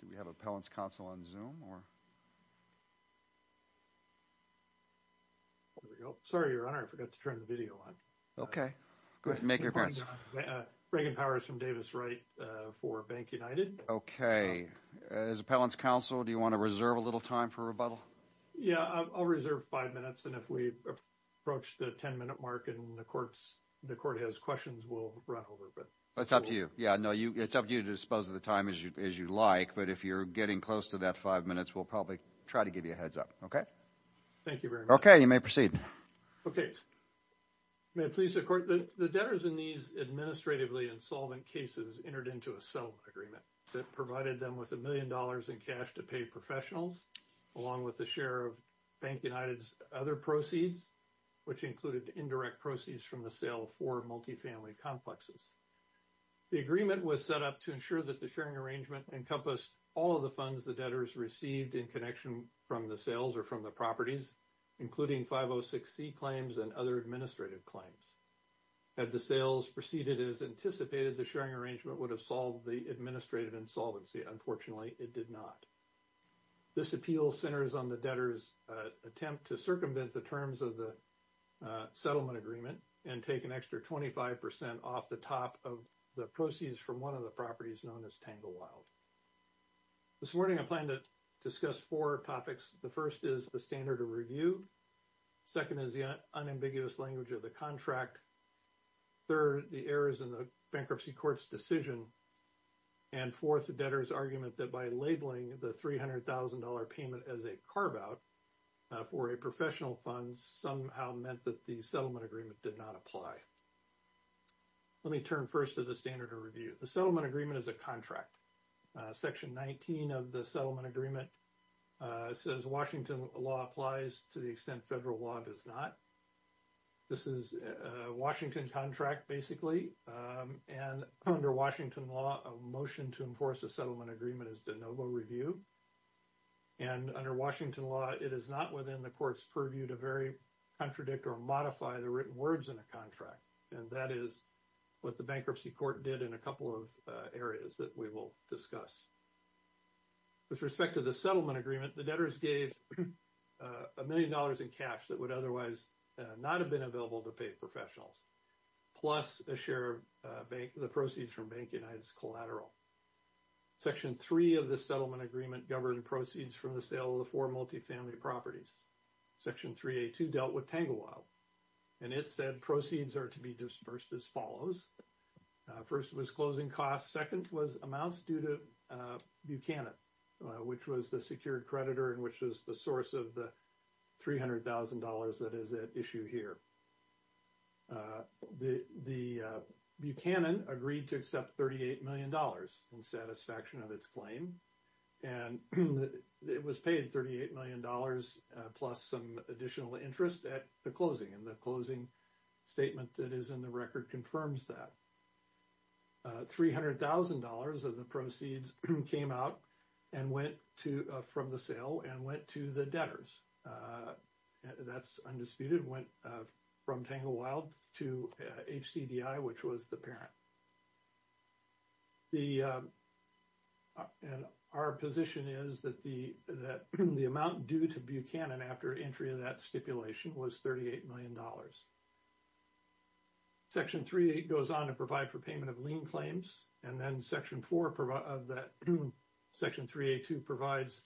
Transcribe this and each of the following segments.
Do we have an appellant's counsel on Zoom, or? Sorry, Your Honor, I forgot to turn the video on. Okay. Go ahead and make your appearance. Reagan Powers from Davis Wright for Bank United. Okay. As appellant's counsel, do you want to reserve a little time for rebuttal? Yeah, I'll reserve five minutes. And if we approach the 10-minute mark and the court has questions, we'll run over. That's up to you. Yeah, no, it's up to you to dispose of the time as you like. But if you're getting close to that five minutes, we'll probably try to give you a heads-up. Okay? Thank you very much. Okay, you may proceed. Okay. May it please the Court, the debtors in these administratively insolvent cases entered into a sell agreement that provided them with a million dollars in cash to pay professionals, along with a share of Bank United's other proceeds, which included indirect proceeds from the sale of four multifamily complexes. The agreement was set up to ensure that the sharing arrangement encompassed all of the funds the debtors received in connection from the sales or from the properties, including 506C claims and other administrative claims. Had the sales proceeded as anticipated, the sharing arrangement would have solved the administrative insolvency. Unfortunately, it did not. This appeal centers on the debtors' attempt to circumvent the terms of the settlement agreement and take an extra 25% off the top of the proceeds from one of the properties known as Tanglewild. This morning, I plan to discuss four topics. The first is the standard of review. Second is the unambiguous language of the contract. Third, the errors in the bankruptcy court's decision. And fourth, the debtors' argument that by labeling the $300,000 payment as a carve-out for a professional fund somehow meant that the settlement agreement did not apply. Let me turn first to the standard of review. The settlement agreement is a contract. Section 19 of the settlement agreement says Washington law applies to the extent federal law does not. This is a Washington contract, basically. And under Washington law, a motion to enforce a settlement agreement is de novo review. And under Washington law, it is not within the court's purview to very contradict or modify the written words in a contract. And that is what the bankruptcy court did in a couple of areas that we will discuss. With respect to the settlement agreement, the debtors gave a million dollars in cash that would otherwise not have been available to pay professionals, plus a share of the proceeds from Bank United's collateral. Section 3 of the settlement agreement governed proceeds from the sale of the four multifamily properties. Section 3A2 dealt with Tanglewild, and it said proceeds are to be dispersed as follows. First was closing costs. Second was amounts due to Buchanan, which was the secured creditor and which was the source of the $300,000 that is at issue here. The Buchanan agreed to accept $38 million in satisfaction of its claim. And it was paid $38 million plus some additional interest at the closing and the closing statement that is in the record confirms that. $300,000 of the proceeds came out and went to from the sale and went to the debtors. That's undisputed went from Tanglewild to HCDI which was the parent. Our position is that the amount due to Buchanan after entry of that stipulation was $38 million. Section 3A goes on to provide for payment of lien claims, and then Section 3A2 provides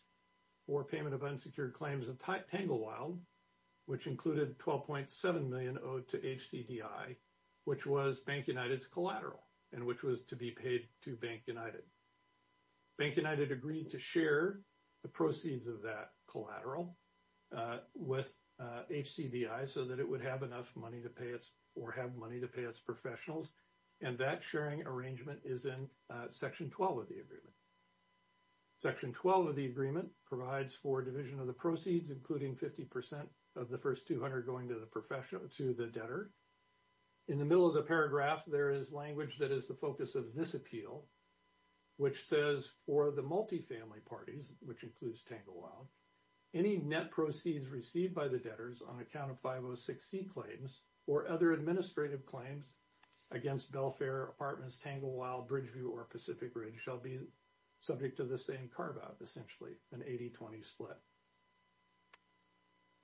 for payment of unsecured claims of Tanglewild, which included $12.7 million owed to HCDI, which was Bank United's collateral, and which was to be paid to Bank United. Bank United agreed to share the proceeds of that collateral with HCDI so that it would have enough money to pay its or have money to pay its professionals, and that sharing arrangement is in Section 12 of the agreement. Section 12 of the agreement provides for division of the proceeds, including 50% of the first 200 going to the professional to the debtor. In the middle of the paragraph, there is language that is the focus of this appeal, which says for the multifamily parties, which includes Tanglewild, any net proceeds received by the debtors on account of 506C claims or other administrative claims against Belfair, Apartments, Tanglewild, Bridgeview, or Pacific Ridge shall be subject to the same carve-out, essentially an 80-20 split.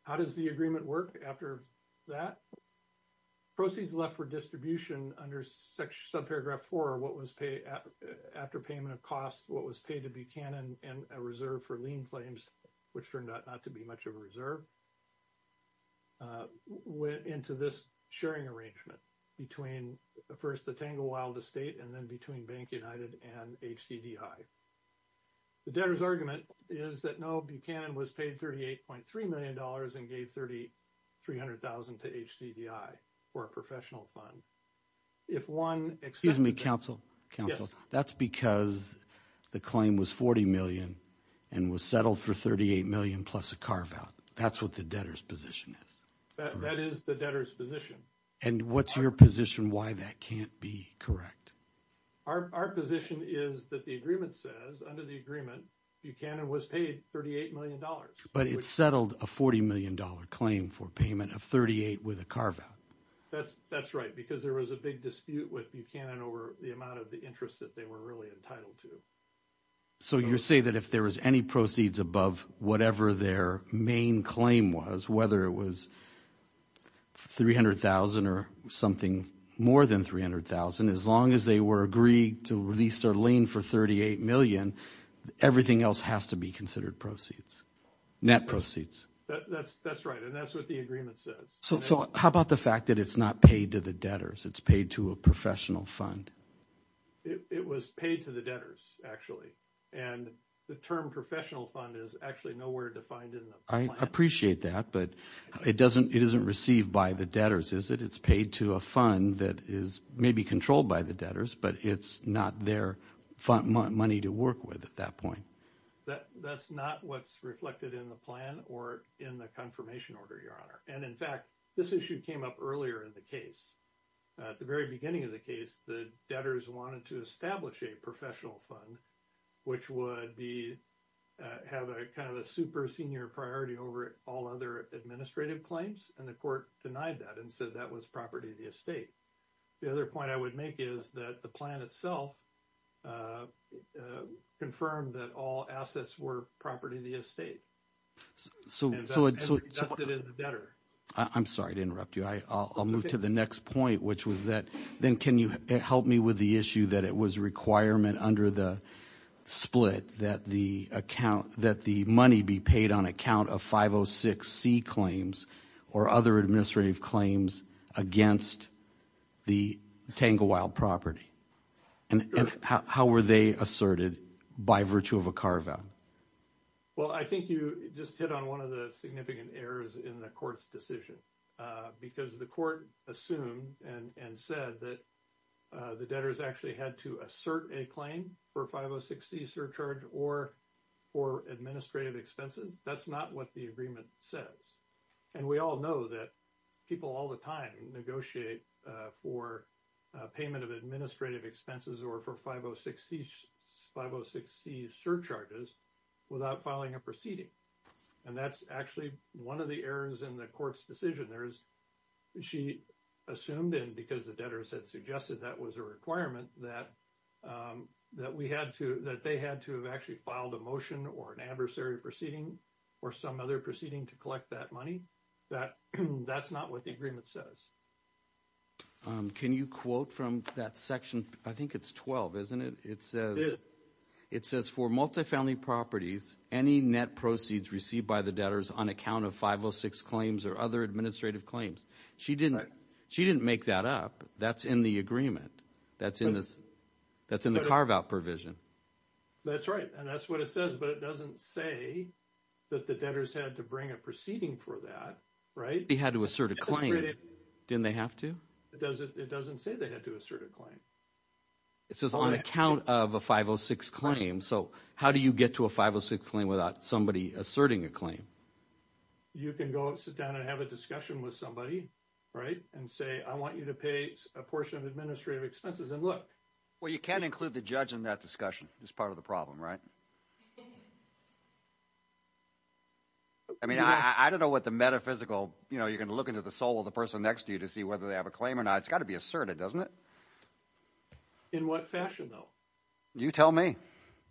How does the agreement work after that? Proceeds left for distribution under subparagraph 4, what was paid after payment of costs, what was paid to Buchanan and a reserve for lien claims, which turned out not to be much of a reserve, went into this sharing arrangement between first the Tanglewild estate and then between Bank United and HCDI. The debtor's argument is that no, Buchanan was paid $38.3 million and gave $3,300,000 to HCDI for a professional fund. Excuse me, counsel. That's because the claim was $40 million and was settled for $38 million plus a carve-out. That's what the debtor's position is. That is the debtor's position. And what's your position why that can't be correct? Our position is that the agreement says, under the agreement, Buchanan was paid $38 million. But it settled a $40 million claim for payment of $38 million with a carve-out. That's right, because there was a big dispute with Buchanan over the amount of the interest that they were really entitled to. So you're saying that if there was any proceeds above whatever their main claim was, whether it was $300,000 or something more than $300,000, as long as they were agreed to release their lien for $38 million, everything else has to be considered proceeds, net proceeds. That's right, and that's what the agreement says. So how about the fact that it's not paid to the debtors? It's paid to a professional fund. It was paid to the debtors, actually, and the term professional fund is actually nowhere defined in the plan. I appreciate that, but it isn't received by the debtors, is it? It's paid to a fund that is maybe controlled by the debtors, but it's not their money to work with at that point. That's not what's reflected in the plan or in the confirmation order, Your Honor. And, in fact, this issue came up earlier in the case. At the very beginning of the case, the debtors wanted to establish a professional fund, which would have a kind of a super senior priority over all other administrative claims, and the court denied that and said that was property of the estate. The other point I would make is that the plan itself confirmed that all assets were property of the estate. And that's reflected in the debtor. I'm sorry to interrupt you. I'll move to the next point, which was that then can you help me with the issue that it was a requirement under the split that the money be paid on account of 506C claims or other administrative claims against the Tanglewild property, and how were they asserted by virtue of a carve-out? Well, I think you just hit on one of the significant errors in the court's decision, because the court assumed and said that the debtors actually had to assert a claim for 506C surcharge or for administrative expenses. That's not what the agreement says. And we all know that people all the time negotiate for payment of administrative expenses or for 506C surcharges without filing a proceeding. And that's actually one of the errors in the court's decision. She assumed, and because the debtors had suggested that was a requirement, that they had to have actually filed a motion or an adversary proceeding or some other proceeding to collect that money. That's not what the agreement says. Can you quote from that section? I think it's 12, isn't it? It says, for multifamily properties, any net proceeds received by the debtors on account of 506C claims or other administrative claims. She didn't make that up. That's in the agreement. That's in the carve-out provision. That's right, and that's what it says. But it doesn't say that the debtors had to bring a proceeding for that, right? They had to assert a claim. Didn't they have to? It doesn't say they had to assert a claim. It says on account of a 506 claim. So how do you get to a 506 claim without somebody asserting a claim? You can go sit down and have a discussion with somebody, right, and say, I want you to pay a portion of administrative expenses, and look. Well, you can't include the judge in that discussion. That's part of the problem, right? I mean, I don't know what the metaphysical, you know, you're going to look into the soul of the person next to you to see whether they have a claim or not. That's got to be asserted, doesn't it? In what fashion, though? You tell me.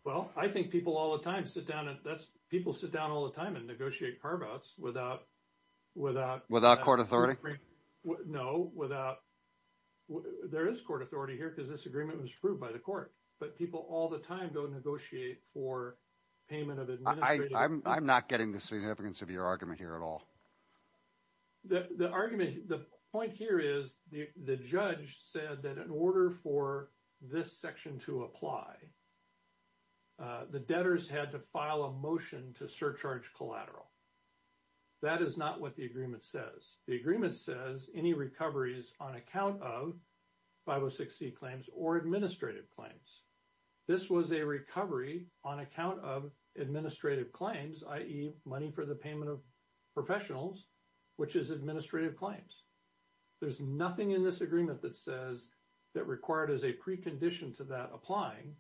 Well, I think people all the time sit down. People sit down all the time and negotiate carve-outs without – Without court authority? No, without – there is court authority here because this agreement was approved by the court. But people all the time go negotiate for payment of administrative – I'm not getting the significance of your argument here at all. The argument – the point here is the judge said that in order for this section to apply, the debtors had to file a motion to surcharge collateral. That is not what the agreement says. The agreement says any recoveries on account of 506c claims or administrative claims. This was a recovery on account of administrative claims, i.e., money for the payment of professionals, which is administrative claims. There's nothing in this agreement that says that required as a precondition to that applying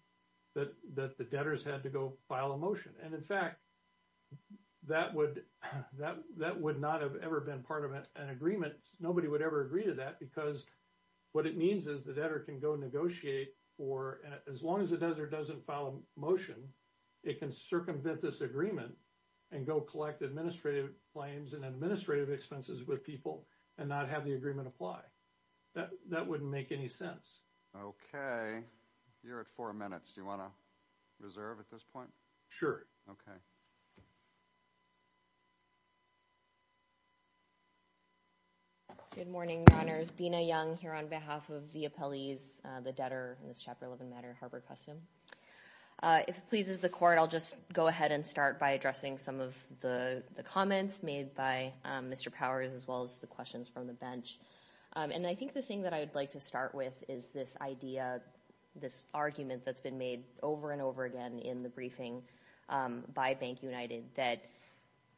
that the debtors had to go file a motion. And, in fact, that would not have ever been part of an agreement. Nobody would ever agree to that because what it means is the debtor can go negotiate for – as long as the debtor doesn't file a motion, it can circumvent this agreement and go collect administrative claims and administrative expenses with people and not have the agreement apply. That wouldn't make any sense. Okay. You're at four minutes. Do you want to reserve at this point? Sure. Okay. Good morning, Your Honors. Bina Young here on behalf of the appellees, the debtor in this Chapter 11 matter, Harbor Custom. If it pleases the court, I'll just go ahead and start by addressing some of the comments made by Mr. Powers as well as the questions from the bench. And I think the thing that I would like to start with is this idea, this argument that's been made over and over again in the briefing by Bank United that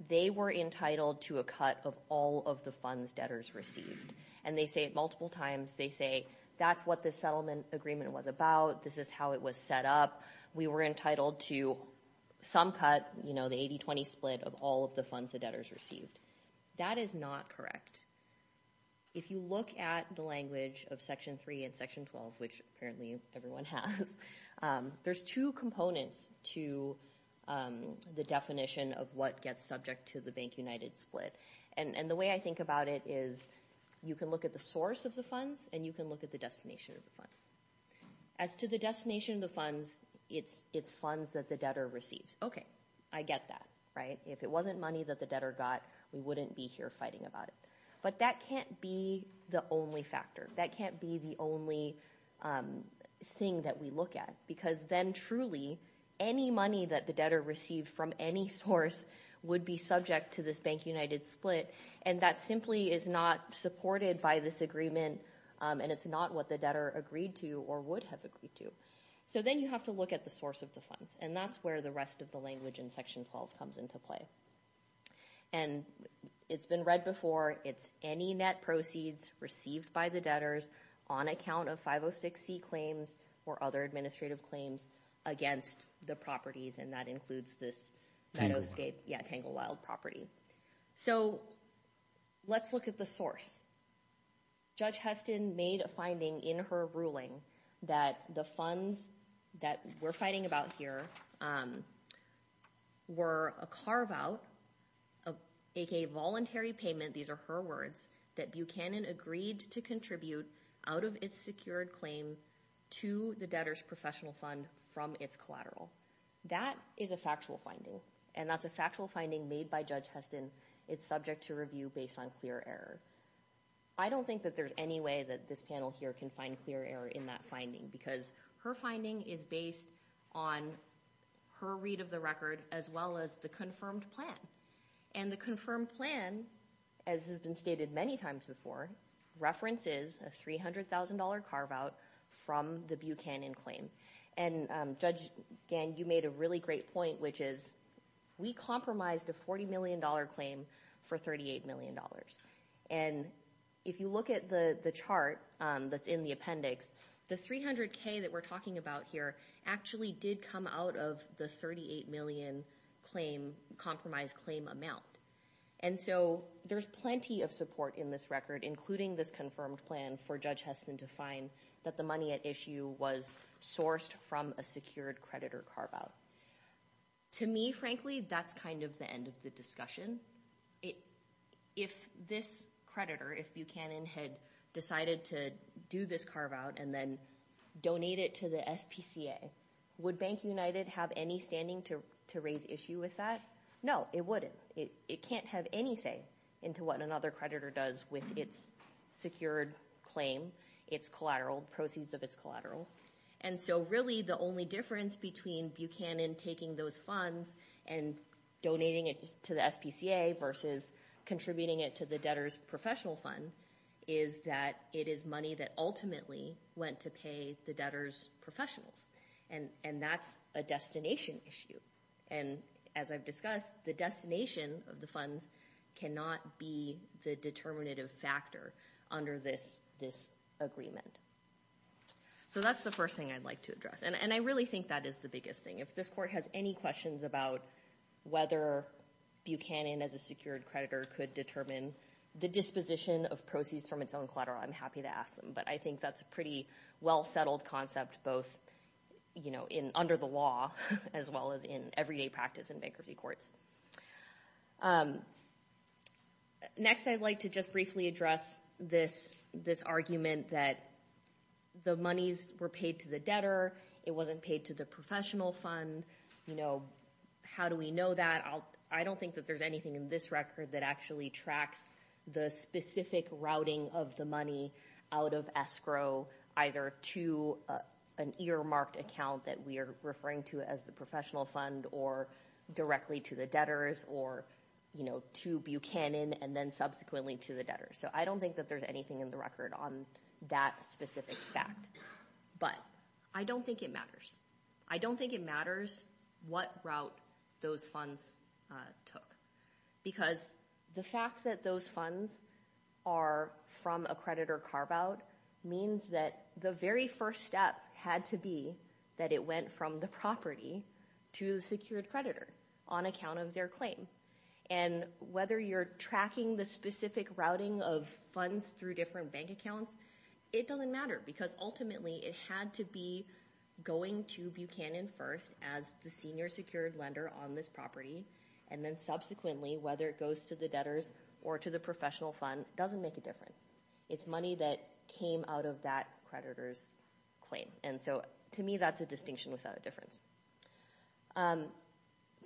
they were entitled to a cut of all of the funds debtors received. And they say it multiple times. They say that's what this settlement agreement was about. This is how it was set up. We were entitled to some cut, you know, the 80-20 split of all of the funds the debtors received. That is not correct. If you look at the language of Section 3 and Section 12, which apparently everyone has, there's two components to the definition of what gets subject to the Bank United split. And the way I think about it is you can look at the source of the funds and you can look at the destination of the funds. As to the destination of the funds, it's funds that the debtor receives. Okay. I get that, right? If it wasn't money that the debtor got, we wouldn't be here fighting about it. But that can't be the only factor. That can't be the only thing that we look at because then truly any money that the debtor received from any source would be subject to this Bank United split. And that simply is not supported by this agreement, and it's not what the debtor agreed to or would have agreed to. So then you have to look at the source of the funds. And that's where the rest of the language in Section 12 comes into play. And it's been read before. It's any net proceeds received by the debtors on account of 506C claims or other administrative claims against the properties, and that includes this Tanglewild property. So let's look at the source. Judge Heston made a finding in her ruling that the funds that we're fighting about here were a carve-out, aka voluntary payment, these are her words, that Buchanan agreed to contribute out of its secured claim to the debtor's professional fund from its collateral. That is a factual finding, and that's a factual finding made by Judge Heston. It's subject to review based on clear error. I don't think that there's any way that this panel here can find clear error in that finding because her finding is based on her read of the record as well as the confirmed plan. And the confirmed plan, as has been stated many times before, references a $300,000 carve-out from the Buchanan claim. And, Judge Gann, you made a really great point, which is we compromised a $40 million claim for $38 million. And if you look at the chart that's in the appendix, the $300,000 that we're talking about here actually did come out of the $38 million compromise claim amount. And so there's plenty of support in this record, including this confirmed plan for Judge Heston to find that the money at issue was sourced from a secured creditor carve-out. To me, frankly, that's kind of the end of the discussion. If this creditor, if Buchanan had decided to do this carve-out and then donate it to the SPCA, would Bank United have any standing to raise issue with that? No, it wouldn't. It can't have any say into what another creditor does with its secured claim, its collateral, proceeds of its collateral. And so really the only difference between Buchanan taking those funds and donating it to the SPCA versus contributing it to the debtor's professional fund is that it is money that ultimately went to pay the debtor's professionals. And that's a destination issue. And as I've discussed, the destination of the funds cannot be the determinative factor under this agreement. So that's the first thing I'd like to address. And I really think that is the biggest thing. If this court has any questions about whether Buchanan as a secured creditor could determine the disposition of proceeds from its own collateral, I'm happy to ask them. But I think that's a pretty well-settled concept both under the law as well as in everyday practice in bankruptcy courts. Next, I'd like to just briefly address this argument that the monies were paid to the debtor. It wasn't paid to the professional fund. How do we know that? I don't think that there's anything in this record that actually tracks the specific routing of the money out of escrow either to an earmarked account that we are referring to as the professional fund or directly to the debtors or to Buchanan and then subsequently to the debtors. So I don't think that there's anything in the record on that specific fact. But I don't think it matters. I don't think it matters what route those funds took. Because the fact that those funds are from a creditor carve-out means that the very first step had to be that it went from the property to the secured creditor on account of their claim. And whether you're tracking the specific routing of funds through different bank accounts, it doesn't matter. Because ultimately it had to be going to Buchanan first as the senior secured lender on this property. And then subsequently whether it goes to the debtors or to the professional fund doesn't make a difference. It's money that came out of that creditor's claim. And so to me that's a distinction without a difference.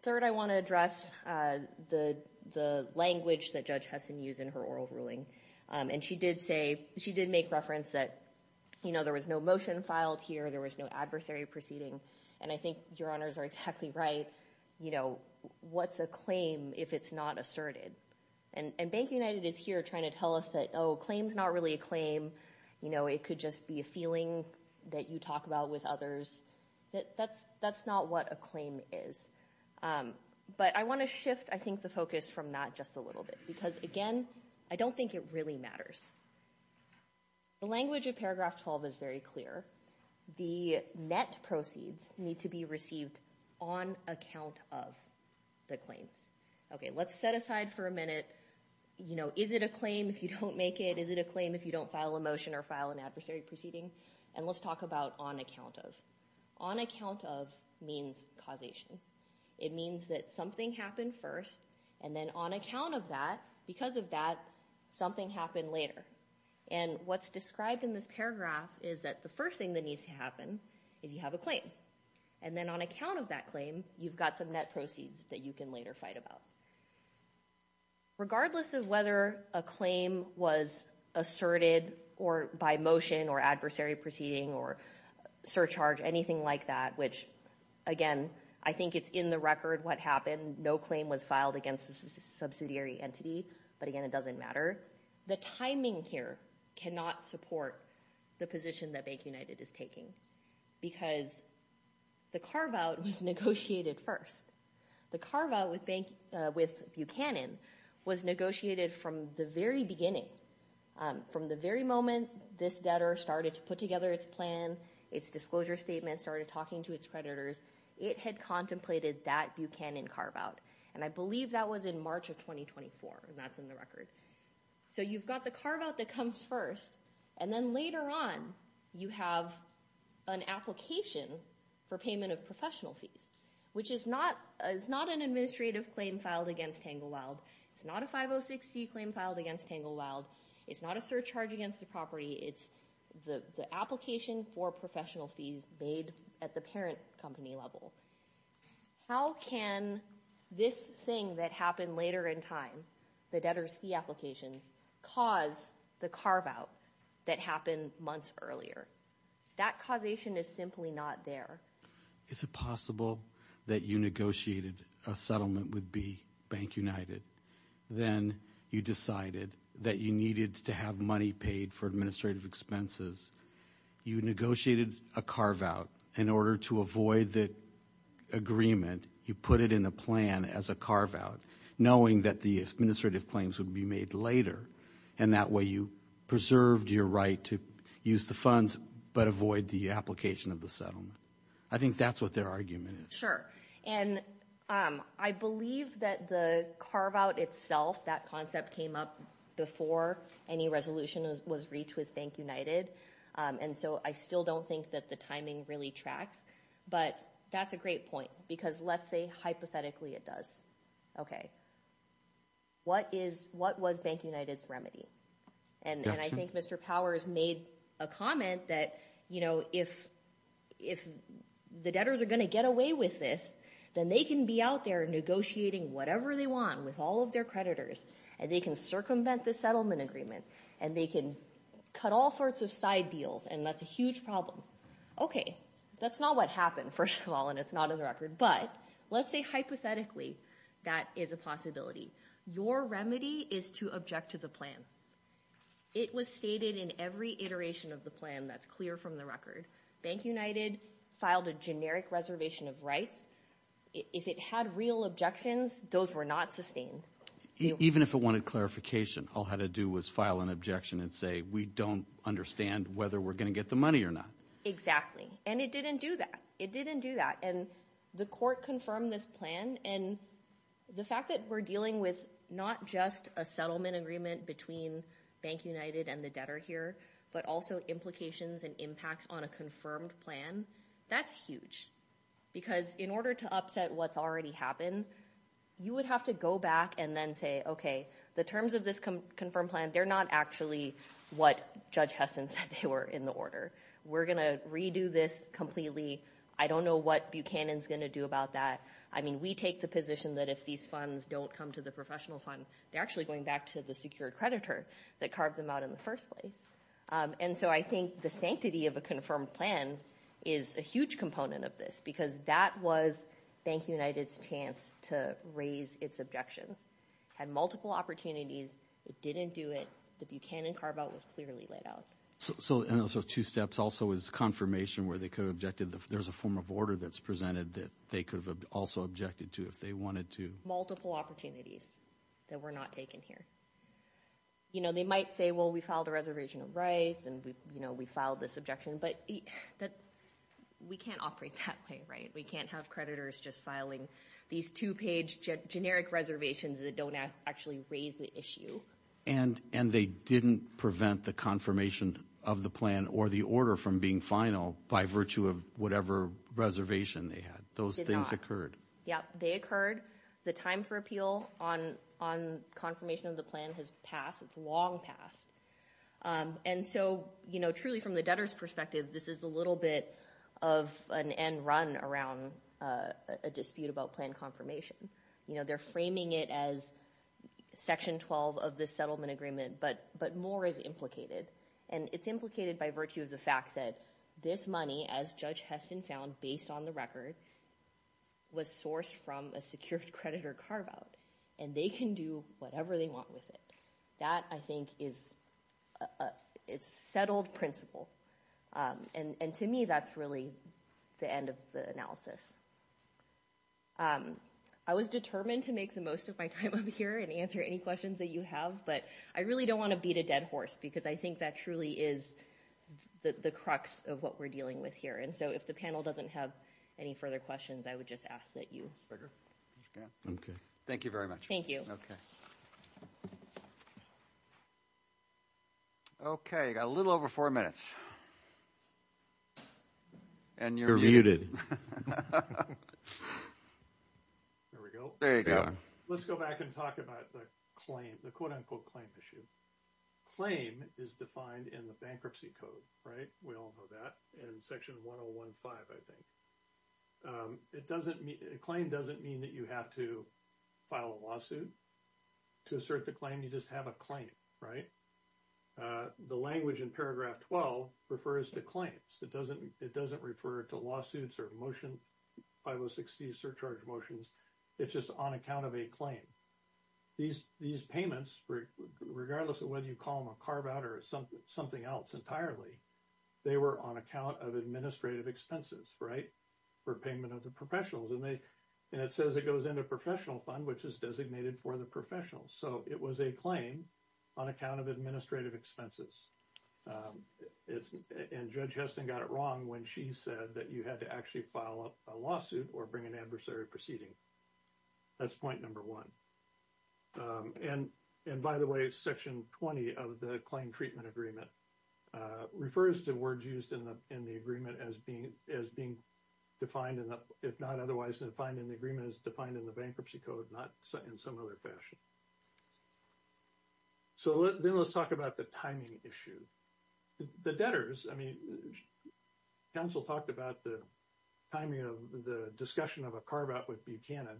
Third, I want to address the language that Judge Heston used in her oral ruling. And she did say, she did make reference that, you know, there was no motion filed here. There was no adversary proceeding. And I think your honors are exactly right. You know, what's a claim if it's not asserted? And Bank United is here trying to tell us that, oh, a claim is not really a claim. You know, it could just be a feeling that you talk about with others. That's not what a claim is. But I want to shift, I think, the focus from that just a little bit. Because, again, I don't think it really matters. The language of Paragraph 12 is very clear. The net proceeds need to be received on account of the claims. Okay, let's set aside for a minute, you know, is it a claim if you don't make it? Is it a claim if you don't file a motion or file an adversary proceeding? And let's talk about on account of. On account of means causation. It means that something happened first. And then on account of that, because of that, something happened later. And what's described in this paragraph is that the first thing that needs to happen is you have a claim. And then on account of that claim, you've got some net proceeds that you can later fight about. Regardless of whether a claim was asserted or by motion or adversary proceeding or surcharge, anything like that, which, again, I think it's in the record what happened. No claim was filed against a subsidiary entity. But, again, it doesn't matter. The timing here cannot support the position that Bank United is taking. Because the carve-out was negotiated first. The carve-out with Buchanan was negotiated from the very beginning. From the very moment this debtor started to put together its plan, its disclosure statement, started talking to its creditors, it had contemplated that Buchanan carve-out. And I believe that was in March of 2024. And that's in the record. So you've got the carve-out that comes first. And then later on, you have an application for payment of professional fees, which is not an administrative claim filed against Tanglewild. It's not a 506c claim filed against Tanglewild. It's not a surcharge against the property. It's the application for professional fees made at the parent company level. How can this thing that happened later in time, the debtor's fee application, cause the carve-out that happened months earlier? That causation is simply not there. Is it possible that you negotiated a settlement with B Bank United? Then you decided that you needed to have money paid for administrative expenses. You negotiated a carve-out. In order to avoid the agreement, you put it in a plan as a carve-out, knowing that the administrative claims would be made later. And that way you preserved your right to use the funds but avoid the application of the settlement. I think that's what their argument is. And I believe that the carve-out itself, that concept came up before any resolution was reached with Bank United. And so I still don't think that the timing really tracks. But that's a great point because let's say hypothetically it does. Okay. What was Bank United's remedy? And I think Mr. Powers made a comment that if the debtors are going to get away with this, then they can be out there negotiating whatever they want with all of their creditors, and they can circumvent the settlement agreement, and they can cut all sorts of side deals, and that's a huge problem. Okay. That's not what happened, first of all, and it's not in the record. But let's say hypothetically that is a possibility. Your remedy is to object to the plan. It was stated in every iteration of the plan that's clear from the record. Bank United filed a generic reservation of rights. If it had real objections, those were not sustained. Even if it wanted clarification, all it had to do was file an objection and say, we don't understand whether we're going to get the money or not. Exactly. And it didn't do that. It didn't do that. And the court confirmed this plan, and the fact that we're dealing with not just a settlement agreement between Bank United and the debtor here but also implications and impacts on a confirmed plan, that's huge. Because in order to upset what's already happened, you would have to go back and then say, okay, the terms of this confirmed plan, they're not actually what Judge Heston said they were in the order. We're going to redo this completely. I don't know what Buchanan is going to do about that. I mean, we take the position that if these funds don't come to the professional fund, they're actually going back to the secured creditor that carved them out in the first place. And so I think the sanctity of a confirmed plan is a huge component of this because that was Bank United's chance to raise its objections. It had multiple opportunities. It didn't do it. The Buchanan carve-out was clearly laid out. So those two steps also is confirmation where they could have objected. There's a form of order that's presented that they could have also objected to if they wanted to. Multiple opportunities that were not taken here. They might say, well, we filed a reservation of rights and we filed this objection, but we can't operate that way, right? We can't have creditors just filing these two-page generic reservations that don't actually raise the issue. And they didn't prevent the confirmation of the plan or the order from being final by virtue of whatever reservation they had. Those things occurred. Yeah, they occurred. The time for appeal on confirmation of the plan has passed. It's long passed. And so truly from the debtor's perspective, this is a little bit of an end run around a dispute about plan confirmation. They're framing it as Section 12 of the settlement agreement, but more is implicated. And it's implicated by virtue of the fact that this money, as Judge Heston found, based on the record, was sourced from a secured creditor carve-out. And they can do whatever they want with it. That, I think, is a settled principle. And to me, that's really the end of the analysis. I was determined to make the most of my time up here and answer any questions that you have, but I really don't want to beat a dead horse because I think that truly is the crux of what we're dealing with here. And so if the panel doesn't have any further questions, I would just ask that you. Okay. Thank you very much. Thank you. Okay. Okay, you've got a little over four minutes. And you're muted. There we go. There you go. Let's go back and talk about the claim, the quote-unquote claim issue. Claim is defined in the bankruptcy code, right? We all know that. In Section 1015, I think. It doesn't mean – claim doesn't mean that you have to file a lawsuit to assert the claim. You just have a claim, right? The language in Paragraph 12 refers to claims. It doesn't refer to lawsuits or motion 5060 surcharge motions. It's just on account of a claim. These payments, regardless of whether you call them a carve-out or something else entirely, they were on account of administrative expenses, right, for payment of the professionals. And it says it goes into professional fund, which is designated for the professionals. So it was a claim on account of administrative expenses. And Judge Heston got it wrong when she said that you had to actually file a lawsuit or bring an adversary proceeding. That's point number one. And, by the way, Section 20 of the claim treatment agreement refers to words used in the agreement as being defined, if not otherwise defined in the agreement, as defined in the bankruptcy code, not in some other fashion. So then let's talk about the timing issue. The debtors, I mean, counsel talked about the timing of the discussion of a carve-out with Buchanan.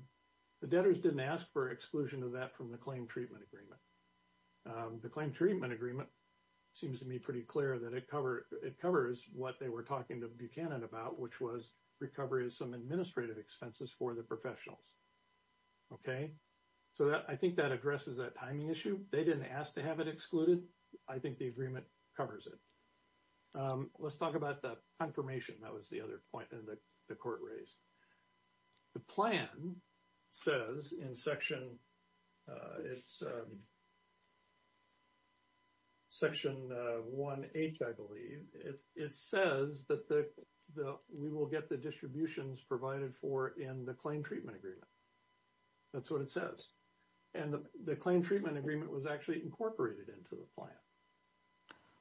The debtors didn't ask for exclusion of that from the claim treatment agreement. The claim treatment agreement seems to me pretty clear that it covers what they were talking to Buchanan about, which was recovery of some administrative expenses for the professionals. Okay. So I think that addresses that timing issue. They didn't ask to have it excluded. I think the agreement covers it. Let's talk about the confirmation. That was the other point that the court raised. The plan says in Section 1H, I believe, it says that we will get the distributions provided for in the claim treatment agreement. That's what it says. And the claim treatment agreement was actually incorporated into the plan.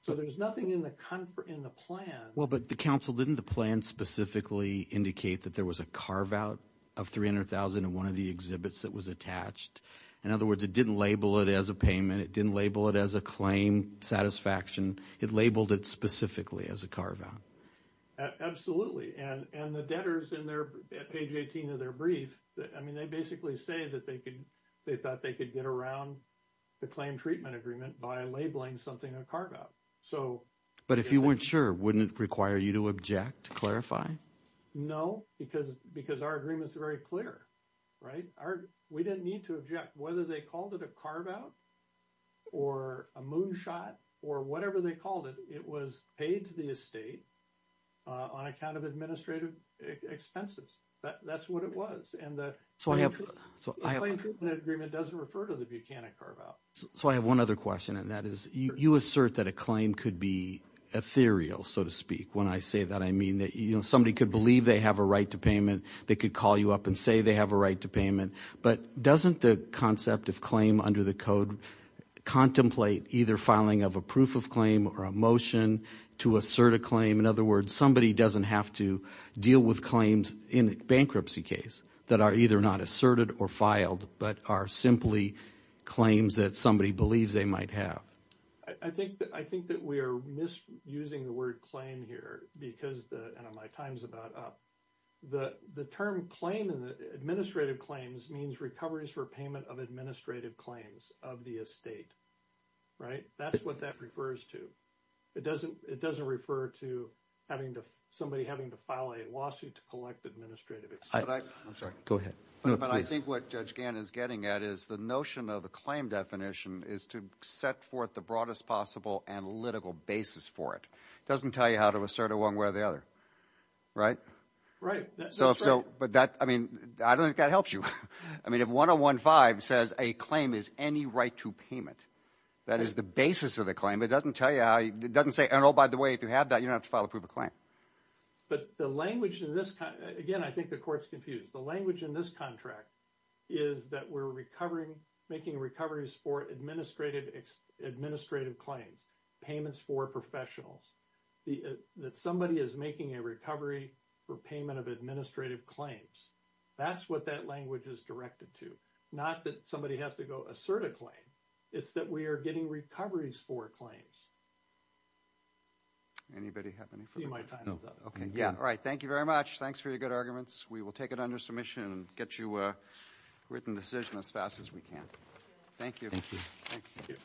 So there's nothing in the plan. Well, but the counsel, didn't the plan specifically indicate that there was a carve-out of $300,000 in one of the exhibits that was attached? In other words, it didn't label it as a payment. It didn't label it as a claim satisfaction. It labeled it specifically as a carve-out. Absolutely. And the debtors at page 18 of their brief, I mean, they basically say that they thought they could get around the claim treatment agreement by labeling something a carve-out. But if you weren't sure, wouldn't it require you to object, clarify? No, because our agreement is very clear. We didn't need to object. Whether they called it a carve-out or a moonshot or whatever they called it, it was paid to the estate on account of administrative expenses. That's what it was. And the claim treatment agreement doesn't refer to the Buchanan carve-out. So I have one other question, and that is you assert that a claim could be ethereal, so to speak. When I say that, I mean that somebody could believe they have a right to payment. They could call you up and say they have a right to payment. But doesn't the concept of claim under the code contemplate either filing of a proof of claim or a motion to assert a claim? In other words, somebody doesn't have to deal with claims in a bankruptcy case that are either not asserted or filed but are simply claims that somebody believes they might have. I think that we are misusing the word claim here because my time is about up. The term claim in the administrative claims means recoveries for payment of administrative claims of the estate, right? That's what that refers to. It doesn't refer to somebody having to file a lawsuit to collect administrative expenses. I'm sorry. Go ahead. But I think what Judge Gann is getting at is the notion of a claim definition is to set forth the broadest possible analytical basis for it. It doesn't tell you how to assert it one way or the other, right? Right. So if so, but that, I mean, I don't think that helps you. I mean if 101-5 says a claim is any right to payment, that is the basis of the claim. It doesn't tell you how, it doesn't say, oh, by the way, if you have that, you don't have to file a proof of claim. But the language in this, again, I think the Court's confused. The language in this contract is that we're making recoveries for administrative claims, payments for professionals, that somebody is making a recovery for payment of administrative claims. That's what that language is directed to, not that somebody has to go assert a claim. It's that we are getting recoveries for claims. Anybody have any further? See my time is up. Okay. Yeah, all right. Thank you very much. Thanks for your good arguments. We will take it under submission and get you a written decision as fast as we can. Thank you. Thank you. Thanks. Thank you.